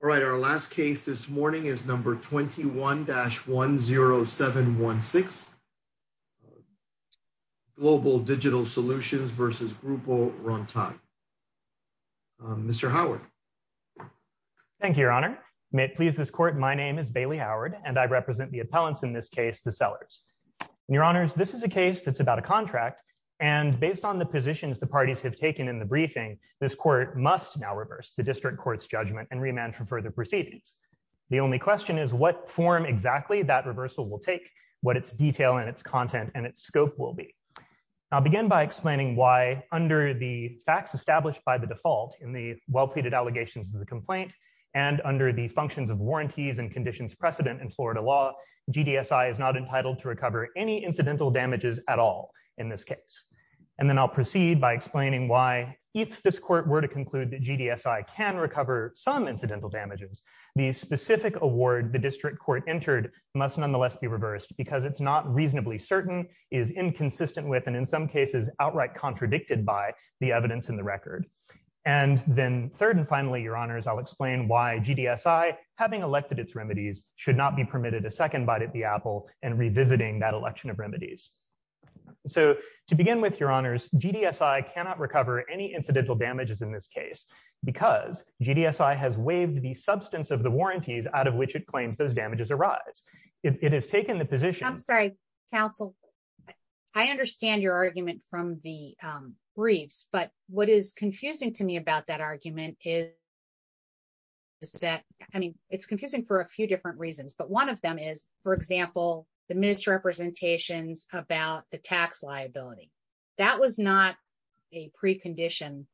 All right, our last case this morning is number 21-10716, Global Digital Solutions v. Grupo Rontan. Mr. Howard. Thank you, Your Honor. May it please this Court, my name is Bailey Howard, and I represent the appellants in this case, the Sellers. Your Honors, this is a case that's about a contract, and based on the positions the parties have taken in the briefing, this Court must now reverse the District Court's judgment and remand for further proceedings. The only question is what form exactly that reversal will take, what its detail and its content and its scope will be. I'll begin by explaining why, under the facts established by the default in the well-pleaded allegations of the complaint, and under the functions of warranties and conditions precedent in Florida law, GDSI is not entitled to recover any incidental damages at all in this case. And then I'll proceed by explaining why, if this Court were to conclude that GDSI can recover some incidental damages, the specific award the District Court entered must nonetheless be reversed because it's not reasonably certain, is inconsistent with, and in some cases outright contradicted by, the evidence in the record. And then third and finally, Your Honors, I'll explain why GDSI, having elected its remedies, should not be permitted a second bite at the apple and revisiting that election of remedies. So, to begin with, Your Honors, GDSI cannot recover any incidental damages in this case because GDSI has waived the substance of the warranties out of which it claims those damages arise. It has taken the position... But what is confusing to me about that argument is that, I mean, it's confusing for a few different reasons, but one of them is, for example, the misrepresentations about the tax liability. That was not a precondition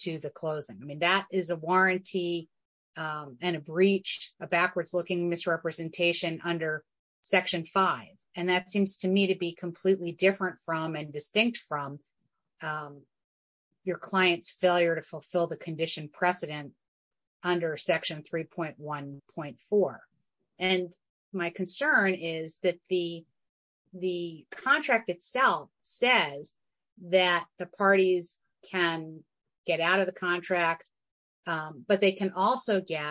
to the closing. I mean, that is a warranty and a breach, a backwards-looking misrepresentation under Section 5, and that seems to me to be completely different from and distinct from your client's failure to fulfill the condition precedent under Section 3.1.4. And my concern is that the contract itself says that the parties can get out of the contract, but they can also get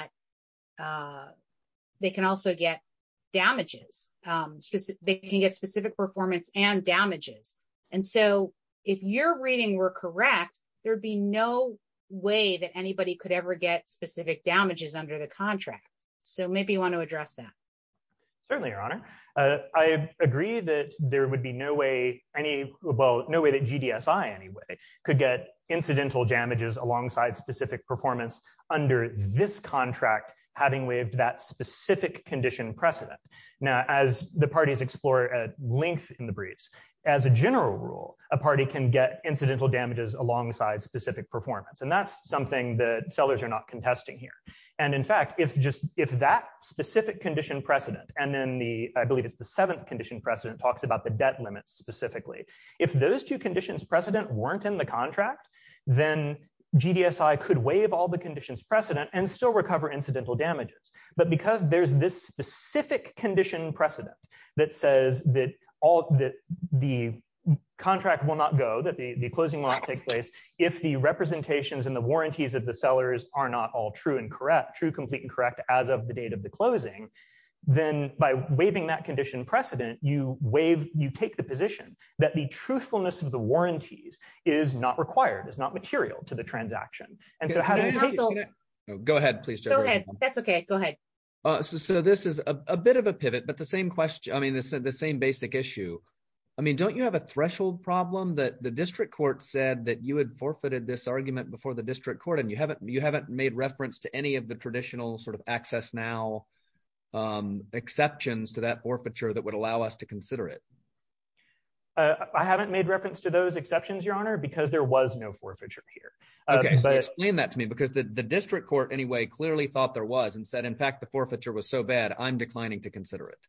damages. They can get specific performance and damages. And so, if your reading were correct, there'd be no way that anybody could ever get specific damages under the contract. So maybe you want to address that. Certainly, Your Honor. I agree that there would be no way any, well, no way that GDSI, anyway, could get incidental damages alongside specific performance under this contract, having waived that specific condition precedent. Now, as the parties explore at length in the briefs, as a general rule, a party can get incidental damages alongside specific performance, and that's something that sellers are not contesting here. And in fact, if that specific condition precedent, and then the, I believe it's the seventh condition precedent, talks about the debt limits specifically, if those two conditions precedent weren't in the contract, then GDSI could waive all the conditions precedent and still recover incidental damages. But because there's this specific condition precedent that says that the contract will not go, that the closing will not take place, if the representations and the warranties of the sellers are not all true and correct, true, complete, and correct as of the date of the closing, then by waiving that condition precedent, you take the position that the truthfulness of the warranties is not required, is not material to the transaction. Go ahead, please. Go ahead. That's okay. Go ahead. So this is a bit of a pivot, but the same question, I mean, the same basic issue. I mean, don't you have a threshold problem that the district court said that you had forfeited this argument before the district court and you haven't, you haven't made reference to any of the traditional sort of access now exceptions to that forfeiture that would allow us to consider it. I haven't made reference to those exceptions, Your Honor, because there was no forfeiture here. Explain that to me because the district court anyway clearly thought there was and said in fact the forfeiture was so bad I'm declining to consider it.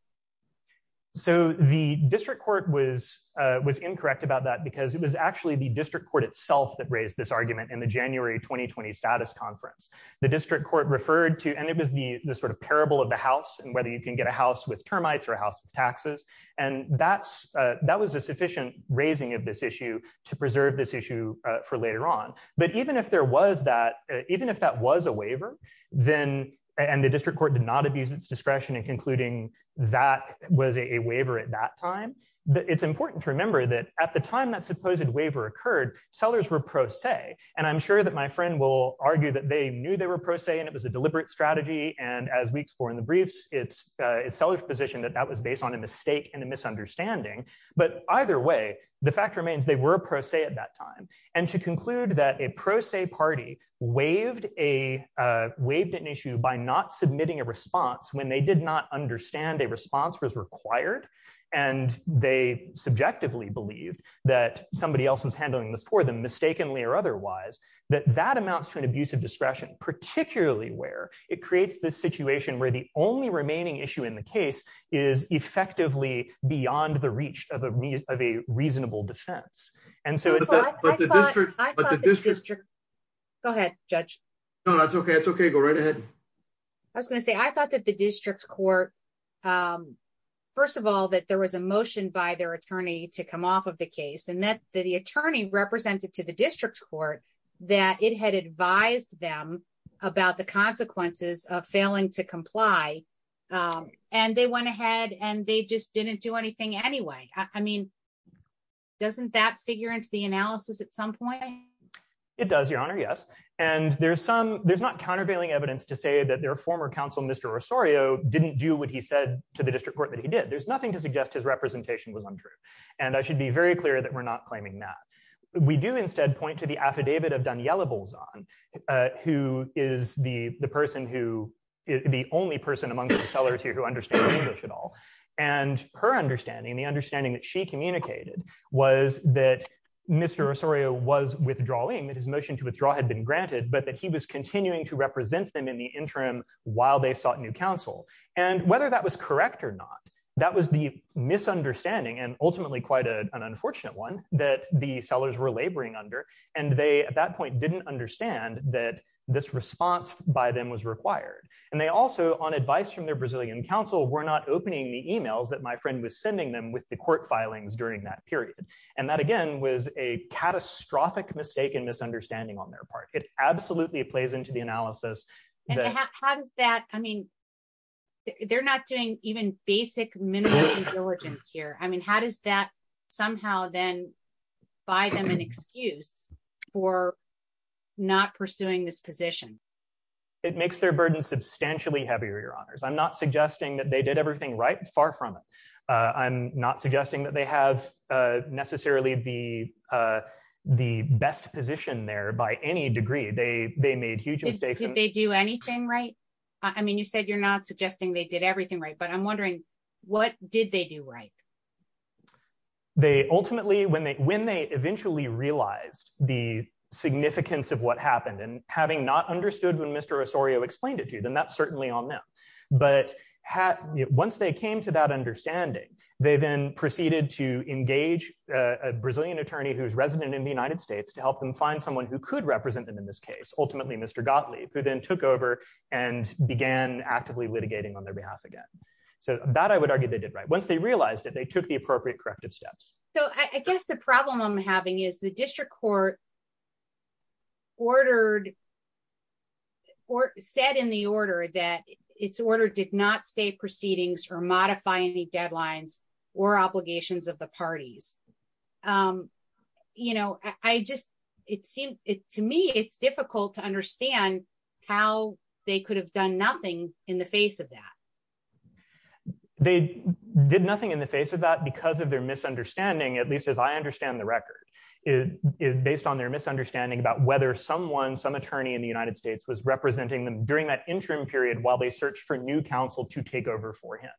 So, the district court was was incorrect about that because it was actually the district court itself that raised this argument in the January 2020 status conference, the district court referred to and it was the sort of parable of the house and whether you can get a house, that was a sufficient raising of this issue to preserve this issue for later on, but even if there was that even if that was a waiver, then, and the district court did not abuse its discretion and concluding that was a waiver at that time, it's important to remember that at the time that supposed waiver occurred sellers were pro se, and I'm sure that my friend will argue that they knew they were pro se and it was a deliberate strategy and as we explore in the briefs, it's a seller's position that that was based on a mistake and a misunderstanding. But either way, the fact remains they were pro se at that time, and to conclude that a pro se party waived a waived an issue by not submitting a response when they did not understand a response was required, and they subjectively believed that somebody else was handling this for them mistakenly or otherwise, that that amounts to an abuse of discretion, particularly where it creates this situation where the only remaining issue in the case is effectively beyond the reach of a reasonable defense. And so it's a district district. Go ahead, judge. No, that's okay it's okay go right ahead. I was gonna say I thought that the district court. First of all, that there was a motion by their attorney to come off of the case and that the attorney represented to the district court that it had advised them about the consequences of failing to comply. And they went ahead and they just didn't do anything anyway. I mean, doesn't that figure into the analysis at some point. It does, Your Honor. Yes. And there's some, there's not countervailing evidence to say that their former counsel Mr Rosario didn't do what he said to the district court that he did, there's nothing to suggest his representation was untrue. And I should be very clear that we're not claiming that we do instead point to the affidavit of Daniela Bolzano, who is the, the person who is the only person amongst the sellers here who understand English at all. And her understanding the understanding that she communicated was that Mr Rosario was withdrawing that his motion to withdraw had been granted but that he was continuing to represent them in the interim, while they sought new counsel, and whether that was correct or not, that was the misunderstanding and ultimately quite an unfortunate one that the sellers were laboring under, and they at that point didn't understand that this response by them was required. And they also on advice from their Brazilian counsel were not opening the emails that my friend was sending them with the court filings during that period. And that again was a catastrophic mistake and misunderstanding on their part, it absolutely plays into the analysis. How does that, I mean, they're not doing even basic minimum origins here I mean how does that somehow then buy them an excuse for not pursuing this position. It makes their burden substantially heavier your honors I'm not suggesting that they did everything right far from it. I'm not suggesting that they have necessarily the, the best position there by any degree they they made huge mistakes and they do anything right. I mean you said you're not suggesting they did everything right but I'm wondering what did they do right. They ultimately when they when they eventually realized the significance of what happened and having not understood when Mr Osorio explained it to them that's certainly on them, but had once they came to that understanding, they then proceeded to engage a Brazilian attorney who's resident in the United States to help them find someone who could represent them in this case, ultimately Mr Gottlieb who then took over and began actively litigating on their behalf again. So that I would argue they did right once they realized that they took the appropriate corrective steps. So I guess the problem I'm having is the district court ordered or said in the order that it's ordered did not stay proceedings or modify any deadlines or obligations of the parties. You know, I just, it seemed it to me it's difficult to understand how they could have done nothing in the face of that. They did nothing in the face of that because of their misunderstanding at least as I understand the record is based on their misunderstanding about whether someone some attorney in the United States was representing them during that interim period while they search for new counsel to take over for him.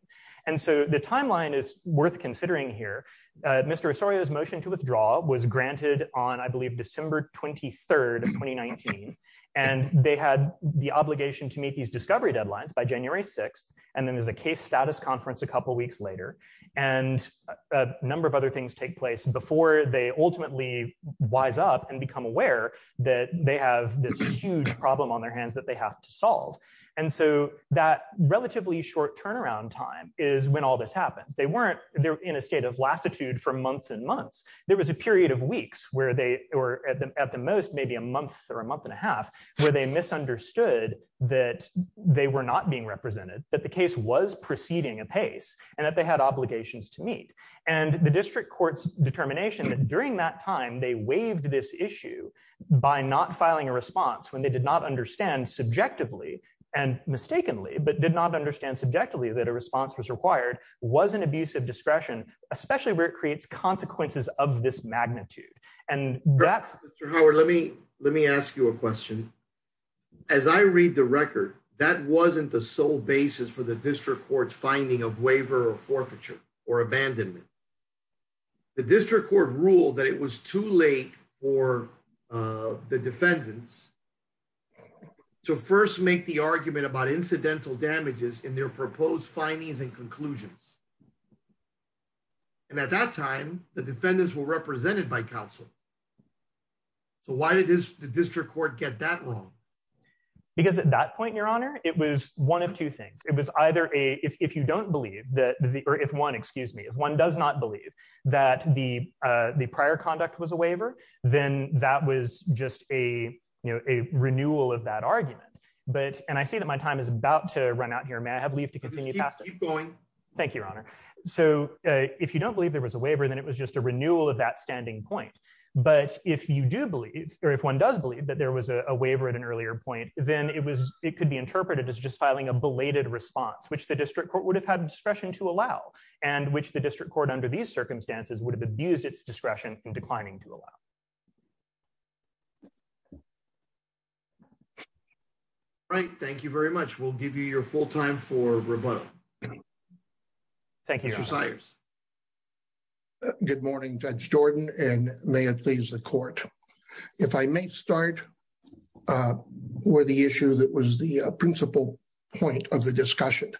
And so the timeline is worth considering here. Mr Osorio's motion to withdraw was granted on I believe December 23 2019. And they had the obligation to meet these discovery deadlines by January 6, and then there's a case status conference a couple weeks later, and a number of other things take place before they ultimately wise up and become aware that they have this huge problem on their hands that they have to solve. And so, that relatively short turnaround time is when all this happens they weren't there in a state of latitude for months and months. There was a period of weeks where they were at the most maybe a month or a month and a half, where they misunderstood that they were not being represented that the case was proceeding a pace, and that they had obligations to meet, and the district court's determination that during that time they waived this issue by not filing a response when they did not understand subjectively and mistakenly but did not understand subjectively that a response was required was an abusive discretion, especially where it creates the district court rule that it was too late for the defendants to first make the argument about incidental damages in their proposed findings and conclusions. And at that time, the defendants were represented by counsel. So why did this district court get that wrong. Because at that point, Your Honor, it was one of two things. It was either a if you don't believe that the earth if one excuse me if one does not believe that the, the prior conduct was a waiver, then that was just a, you know, a renewal of that argument, but, and I see that my time is about to run out here may I have leave to continue going. Thank you, Your Honor. So, if you don't believe there was a waiver then it was just a renewal of that standing point. But if you do believe, or if one does believe that there was a waiver at an earlier point, then it was, it could be interpreted as just filing a belated response which the district court would have had discretion to allow, and which the district court under these circumstances would have abused its discretion and declining to allow. Right. Thank you very much. We'll give you your full time for rebuttal. Thank you. Thank you. Good morning Judge Jordan and may it please the court. If I may start with the issue that was the principal point of the discussion,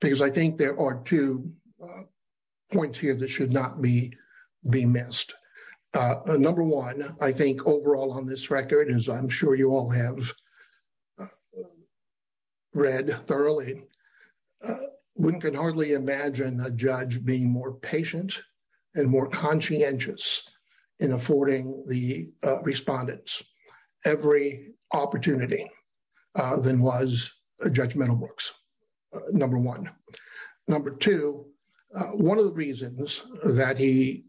because I think there are two points here that should not be be missed. Number one, I think overall on this record is I'm sure you all have read thoroughly. One can hardly imagine a judge being more patient and more conscientious in affording the respondents every opportunity than was Judge Meadowbrooks, number one. Number two, one of the reasons that he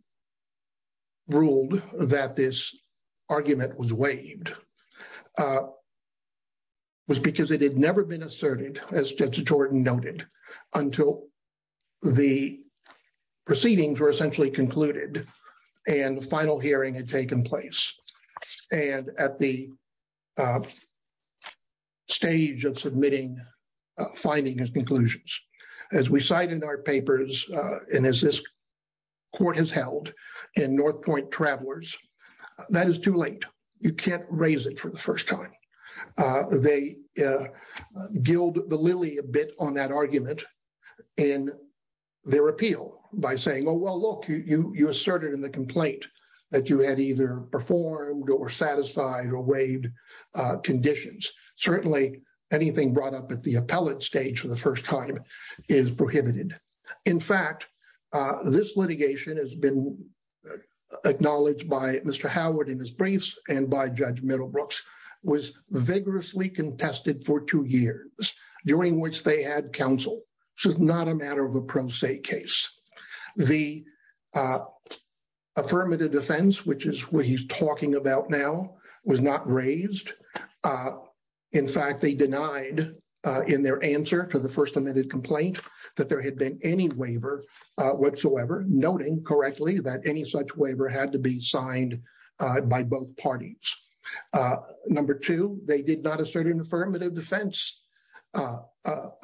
ruled that this argument was waived was because it had never been asserted, as Judge Jordan noted, until the proceedings were essentially concluded and the final hearing had taken place. And at the stage of submitting, finding his conclusions, as we cite in our papers, and as this court has held in North Point Travelers, that is too late. You can't raise it for the first time. They gilled the lily a bit on that argument in their appeal by saying, oh, well, look, you asserted in the complaint that you had either performed or satisfied or waived conditions. Certainly, anything brought up at the appellate stage for the first time is prohibited. In fact, this litigation has been acknowledged by Mr. Howard in his briefs and by Judge Meadowbrooks was vigorously contested for two years, during which they had counsel. This is not a matter of a pro se case. The affirmative defense, which is what he's talking about now, was not raised. In fact, they denied in their answer to the first amended complaint that there had been any waiver whatsoever, noting correctly that any such waiver had to be signed by both parties. Number two, they did not assert an affirmative defense,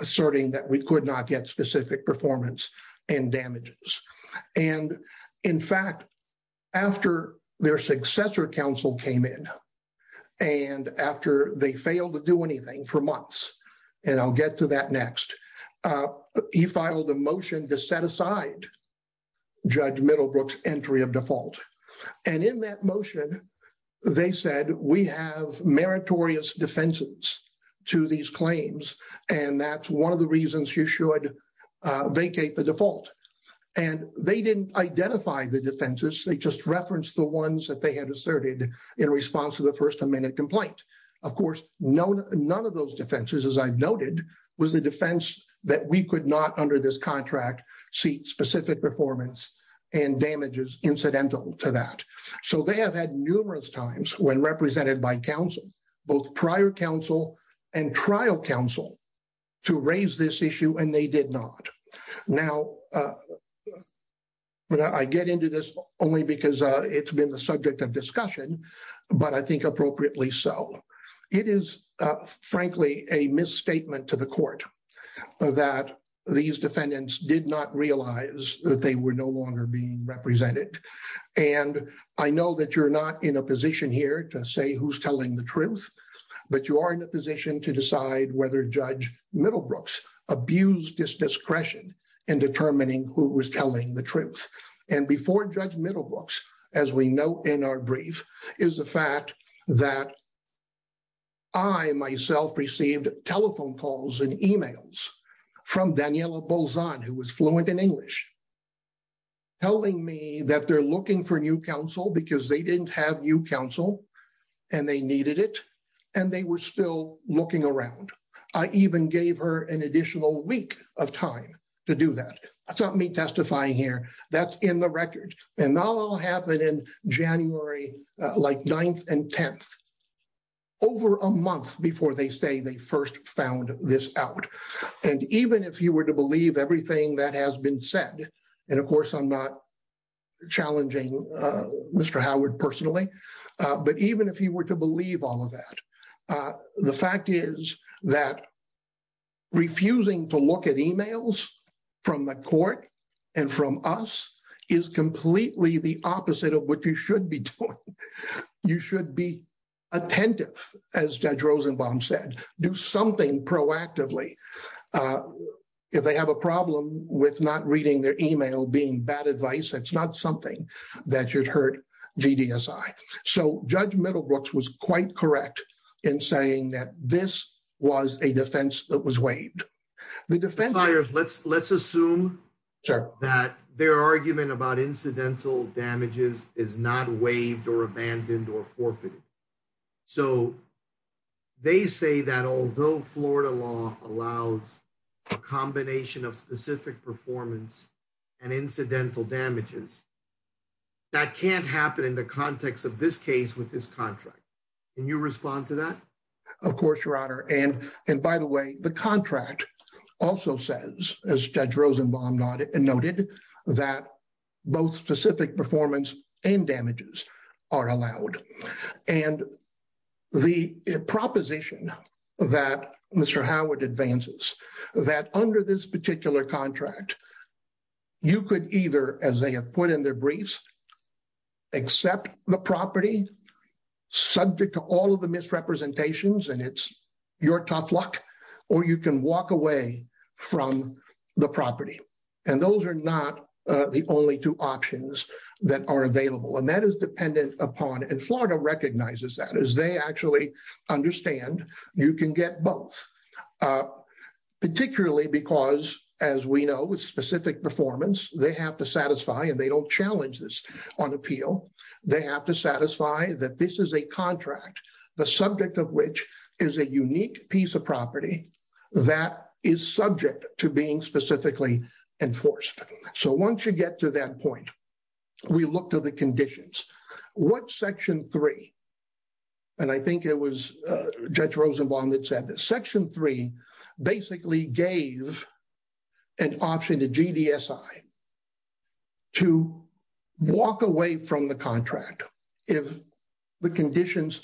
asserting that we could not get specific performance and damages. In fact, after their successor counsel came in and after they failed to do anything for months, and I'll get to that next, he filed a motion to set aside Judge Middlebrooks' entry of default. And in that motion, they said we have meritorious defenses to these claims. And that's one of the reasons you should vacate the default. And they didn't identify the defenses. They just referenced the ones that they had asserted in response to the first amendment complaint. Of course, none of those defenses, as I've noted, was the defense that we could not, under this contract, see specific performance and damages incidental to that. So they have had numerous times, when represented by counsel, both prior counsel and trial counsel, to raise this issue, and they did not. Now, I get into this only because it's been the subject of discussion, but I think appropriately so. It is, frankly, a misstatement to the court that these defendants did not realize that they were no longer being represented. And I know that you're not in a position here to say who's telling the truth, but you are in a position to decide whether Judge Middlebrooks abused his discretion in determining who was telling the truth. And before Judge Middlebrooks, as we note in our brief, is the fact that I, myself, received telephone calls and emails from Daniela Bolzano, who was fluent in English, telling me that they're looking for new counsel because they didn't have new counsel and they needed it, and they were still looking around. I even gave her an additional week of time to do that. That's not me testifying here. That's in the record. And that all happened in January, like, 9th and 10th, over a month before they say they first found this out. And even if you were to believe everything that has been said, and of course I'm not challenging Mr. Howard personally, but even if you were to believe all of that, the fact is that refusing to look at emails from the court and from us is completely the opposite of what you should be doing. You should be attentive, as Judge Rosenbaum said. Do something proactively. If they have a problem with not reading their email being bad advice, that's not something that should hurt GDSI. So Judge Middlebrooks was quite correct in saying that this was a defense that was waived. Let's assume that their argument about incidental damages is not waived or abandoned or forfeited. So they say that although Florida law allows a combination of specific performance and incidental damages, that can't happen in the context of this case with this contract. Can you respond to that? Of course, Your Honor. And by the way, the contract also says, as Judge Rosenbaum noted, that both specific performance and damages are allowed. And the proposition that Mr. Howard advances, that under this particular contract, you could either, as they have put in their briefs, accept the property subject to all of the misrepresentations and it's your tough luck, or you can walk away from the property. And those are not the only two options that are available. And that is dependent upon, and Florida recognizes that, as they actually understand you can get both. Particularly because, as we know, with specific performance, they have to satisfy, and they don't challenge this on appeal. They have to satisfy that this is a contract, the subject of which is a unique piece of property that is subject to being specifically enforced. So once you get to that point, we look to the conditions. What Section 3, and I think it was Judge Rosenbaum that said this, Section 3 basically gave an option to GDSI to walk away from the contract if the conditions,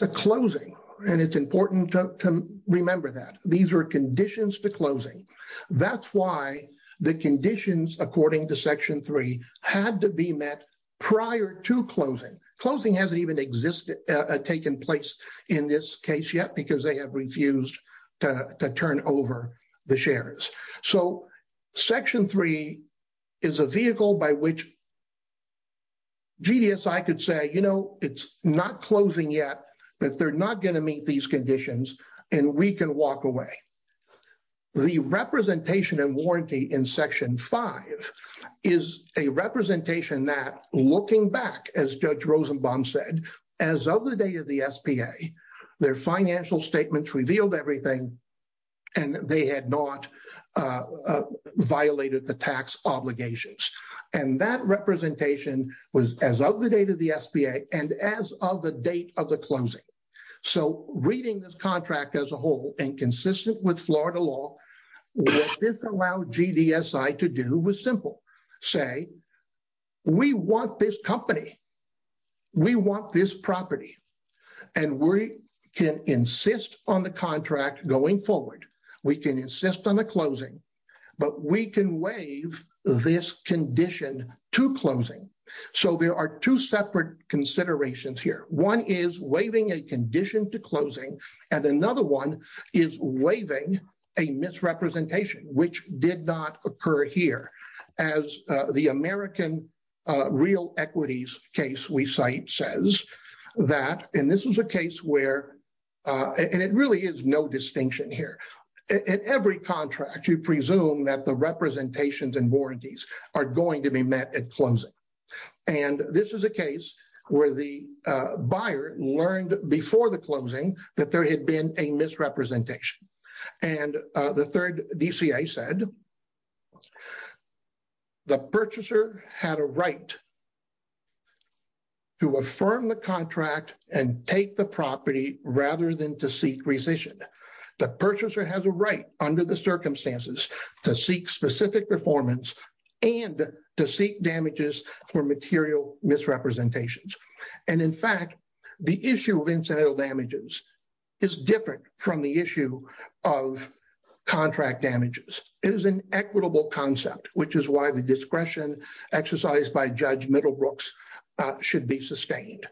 the closing, and it's important to remember that. These are conditions to closing. That's why the conditions, according to Section 3, had to be met prior to closing. Closing hasn't even existed, taken place in this case yet, because they have refused to turn over the shares. So Section 3 is a vehicle by which GDSI could say, you know, it's not closing yet, but they're not going to meet these conditions, and we can walk away. The representation and warranty in Section 5 is a representation that, looking back, as Judge Rosenbaum said, as of the date of the SBA, their financial statements revealed everything, and they had not violated the tax obligations. And that representation was as of the date of the SBA and as of the date of the closing. So reading this contract as a whole and consistent with Florida law, what this allowed GDSI to do was simple. Say, we want this company. We want this property. And we can insist on the contract going forward. We can insist on the closing. But we can waive this condition to closing. So there are two separate considerations here. One is waiving a condition to closing, and another one is waiving a misrepresentation, which did not occur here. As the American real equities case we cite says that—and this is a case where—and it really is no distinction here. In every contract, you presume that the representations and warranties are going to be met at closing. And this is a case where the buyer learned before the closing that there had been a misrepresentation. And the third DCA said the purchaser had a right to affirm the contract and take the property rather than to seek rescission. The purchaser has a right under the circumstances to seek specific performance and to seek damages for material misrepresentations. And in fact, the issue of incidental damages is different from the issue of contract damages. It is an equitable concept, which is why the discretion exercised by Judge Middlebrooks should be sustained.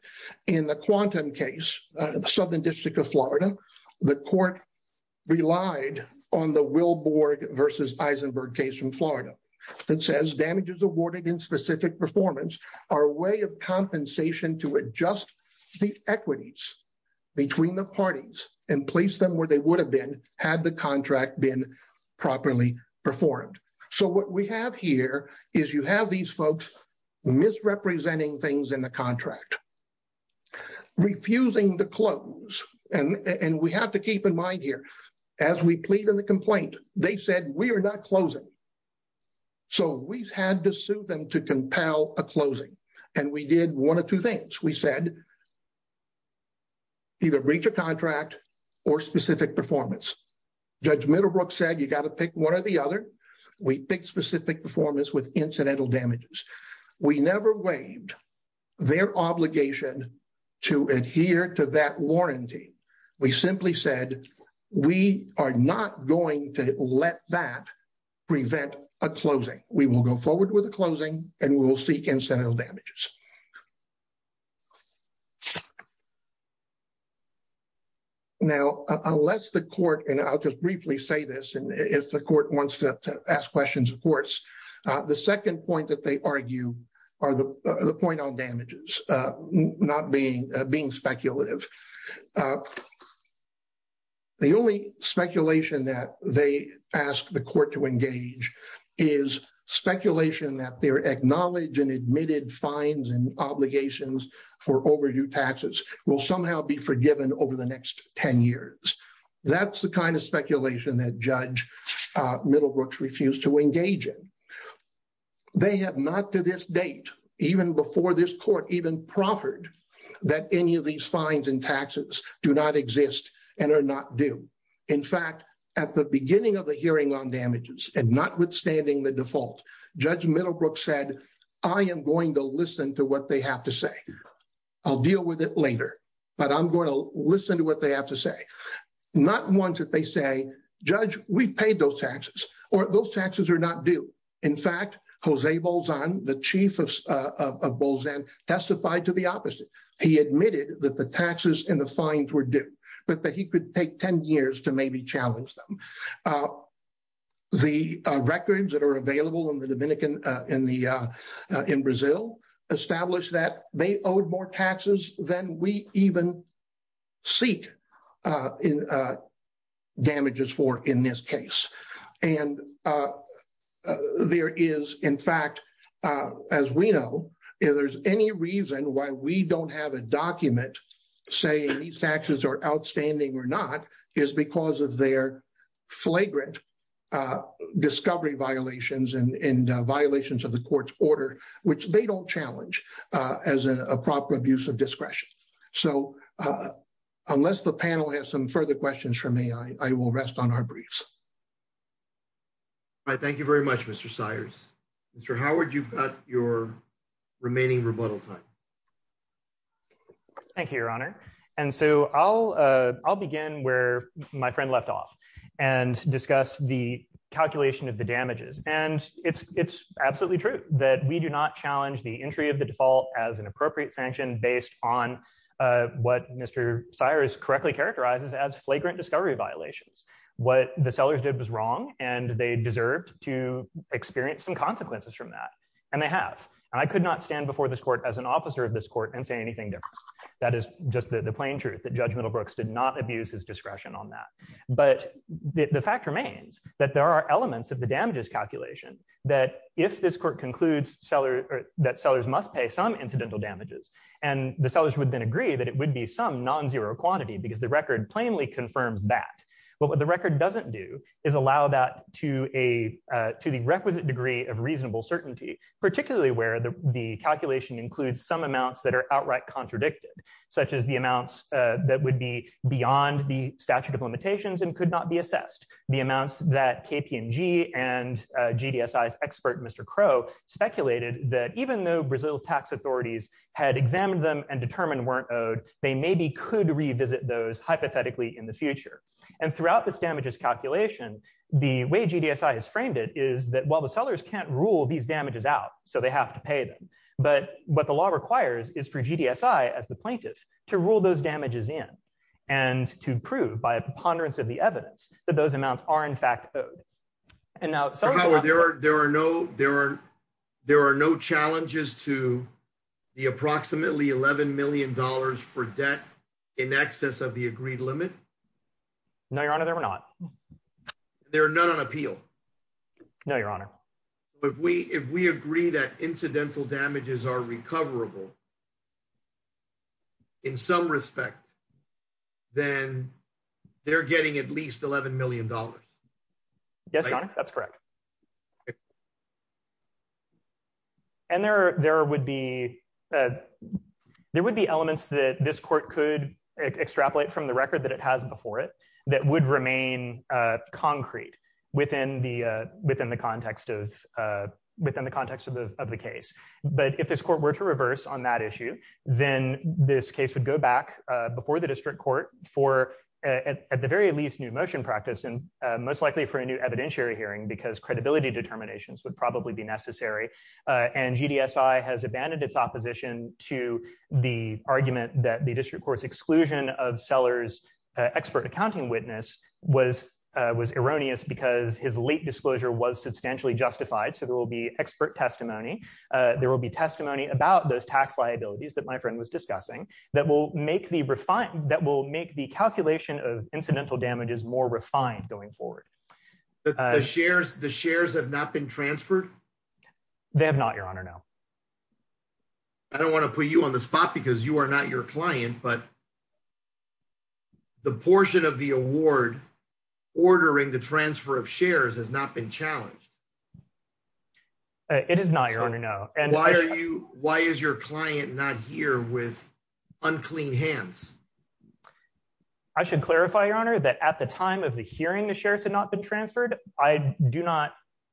In the Quantum case, the Southern District of Florida, the court relied on the Will Borg v. Eisenberg case from Florida. It says damages awarded in specific performance are a way of compensation to adjust the equities between the parties and place them where they would have been had the contract been properly performed. So what we have here is you have these folks misrepresenting things in the contract, refusing to close. And we have to keep in mind here, as we plead in the complaint, they said, we are not closing. So we've had to sue them to compel a closing. And we did one of two things. We said either breach of contract or specific performance. Judge Middlebrooks said you got to pick one or the other. We picked specific performance with incidental damages. We never waived their obligation to adhere to that warranty. We simply said we are not going to let that prevent a closing. We will go forward with a closing, and we will seek incidental damages. Now, unless the court, and I'll just briefly say this, and if the court wants to ask questions of courts, the second point that they argue are the point on damages, not being speculative. The only speculation that they ask the court to engage is speculation that their acknowledged and admitted fines and obligations for overdue taxes will somehow be forgiven over the next 10 years. That's the kind of speculation that Judge Middlebrooks refused to engage in. They have not to this date, even before this court even proffered, that any of these fines and taxes do not exist and are not due. In fact, at the beginning of the hearing on damages, and notwithstanding the default, Judge Middlebrooks said, I am going to listen to what they have to say. I'll deal with it later, but I'm going to listen to what they have to say. Not once did they say, Judge, we've paid those taxes, or those taxes are not due. In fact, Jose Bolzano, the chief of Bolzano, testified to the opposite. He admitted that the taxes and the fines were due, but that he could take 10 years to maybe challenge them. The records that are available in Brazil establish that they owed more taxes than we even seek damages for in this case. There is, in fact, as we know, if there's any reason why we don't have a document saying these taxes are outstanding or not is because of their flagrant discovery violations and violations of the court's order, which they don't challenge as a proper abuse of discretion. So, unless the panel has some further questions for me, I will rest on our briefs. Thank you very much, Mr. Cyrus. Mr. Howard, you've got your remaining rebuttal time. Thank you, Your Honor. And so I'll begin where my friend left off and discuss the calculation of the damages. And it's absolutely true that we do not challenge the entry of the default as an appropriate sanction based on what Mr. Cyrus correctly characterizes as flagrant discovery violations. What the sellers did was wrong, and they deserved to experience some consequences from that. And they have. I could not stand before this court as an officer of this court and say anything different. That is just the plain truth that Judge Middlebrooks did not abuse his discretion on that. But the fact remains that there are elements of the damages calculation that if this court concludes that sellers must pay some incidental damages, and the sellers would then agree that it would be some nonzero quantity because the record plainly confirms that. But what the record doesn't do is allow that to the requisite degree of reasonable certainty, particularly where the calculation includes some amounts that are outright they maybe could revisit those hypothetically in the future. And throughout this damages calculation, the way GDSI has framed it is that while the sellers can't rule these damages out, so they have to pay them, but what the law requires is for GDSI as the plaintiff to rule those damages in and to prove by a preponderance of the evidence that those amounts are in fact owed. There are no challenges to the approximately $11 million for debt in excess of the agreed limit? No, Your Honor, there are not. There are none on appeal? No, Your Honor. If we agree that incidental damages are recoverable, in some respect, then they're getting at least $11 million. Yes, Your Honor, that's correct. And there would be elements that this court could extrapolate from the record that it has before it that would remain concrete within the context of the case. But if this court were to reverse on that issue, then this case would go back before the district court for, at the very least, new motion practice and most likely for a new evidentiary hearing because credibility determinations would probably be necessary. And GDSI has abandoned its opposition to the argument that the district court's exclusion of Sellers' expert accounting witness was erroneous because his late disclosure was substantially justified, so there will be expert testimony. There will be testimony about those tax liabilities that my friend was discussing that will make the calculation of incidental damages more refined going forward. The shares have not been transferred? They have not, Your Honor, no. I don't want to put you on the spot because you are not your client, but the portion of the award ordering the transfer of shares has not been challenged. It is not, Your Honor, no. Why is your client not here with unclean hands? I should clarify, Your Honor, that at the time of the hearing the shares had not been transferred, I do not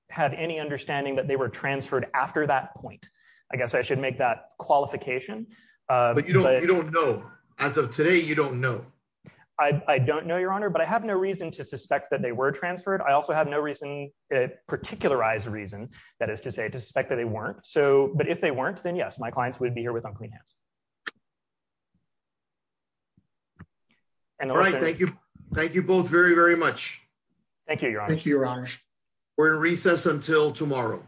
have any understanding that they were transferred after that point. I guess I should make that qualification. But you don't know. As of today, you don't know. I don't know, Your Honor, but I have no reason to suspect that they were transferred. I also have no reason, particularized reason, that is to say, to suspect that they weren't. But if they weren't, then yes, my clients would be here with unclean hands. All right, thank you. Thank you both very, very much. Thank you, Your Honor. Thank you, Your Honor. We're in recess until tomorrow.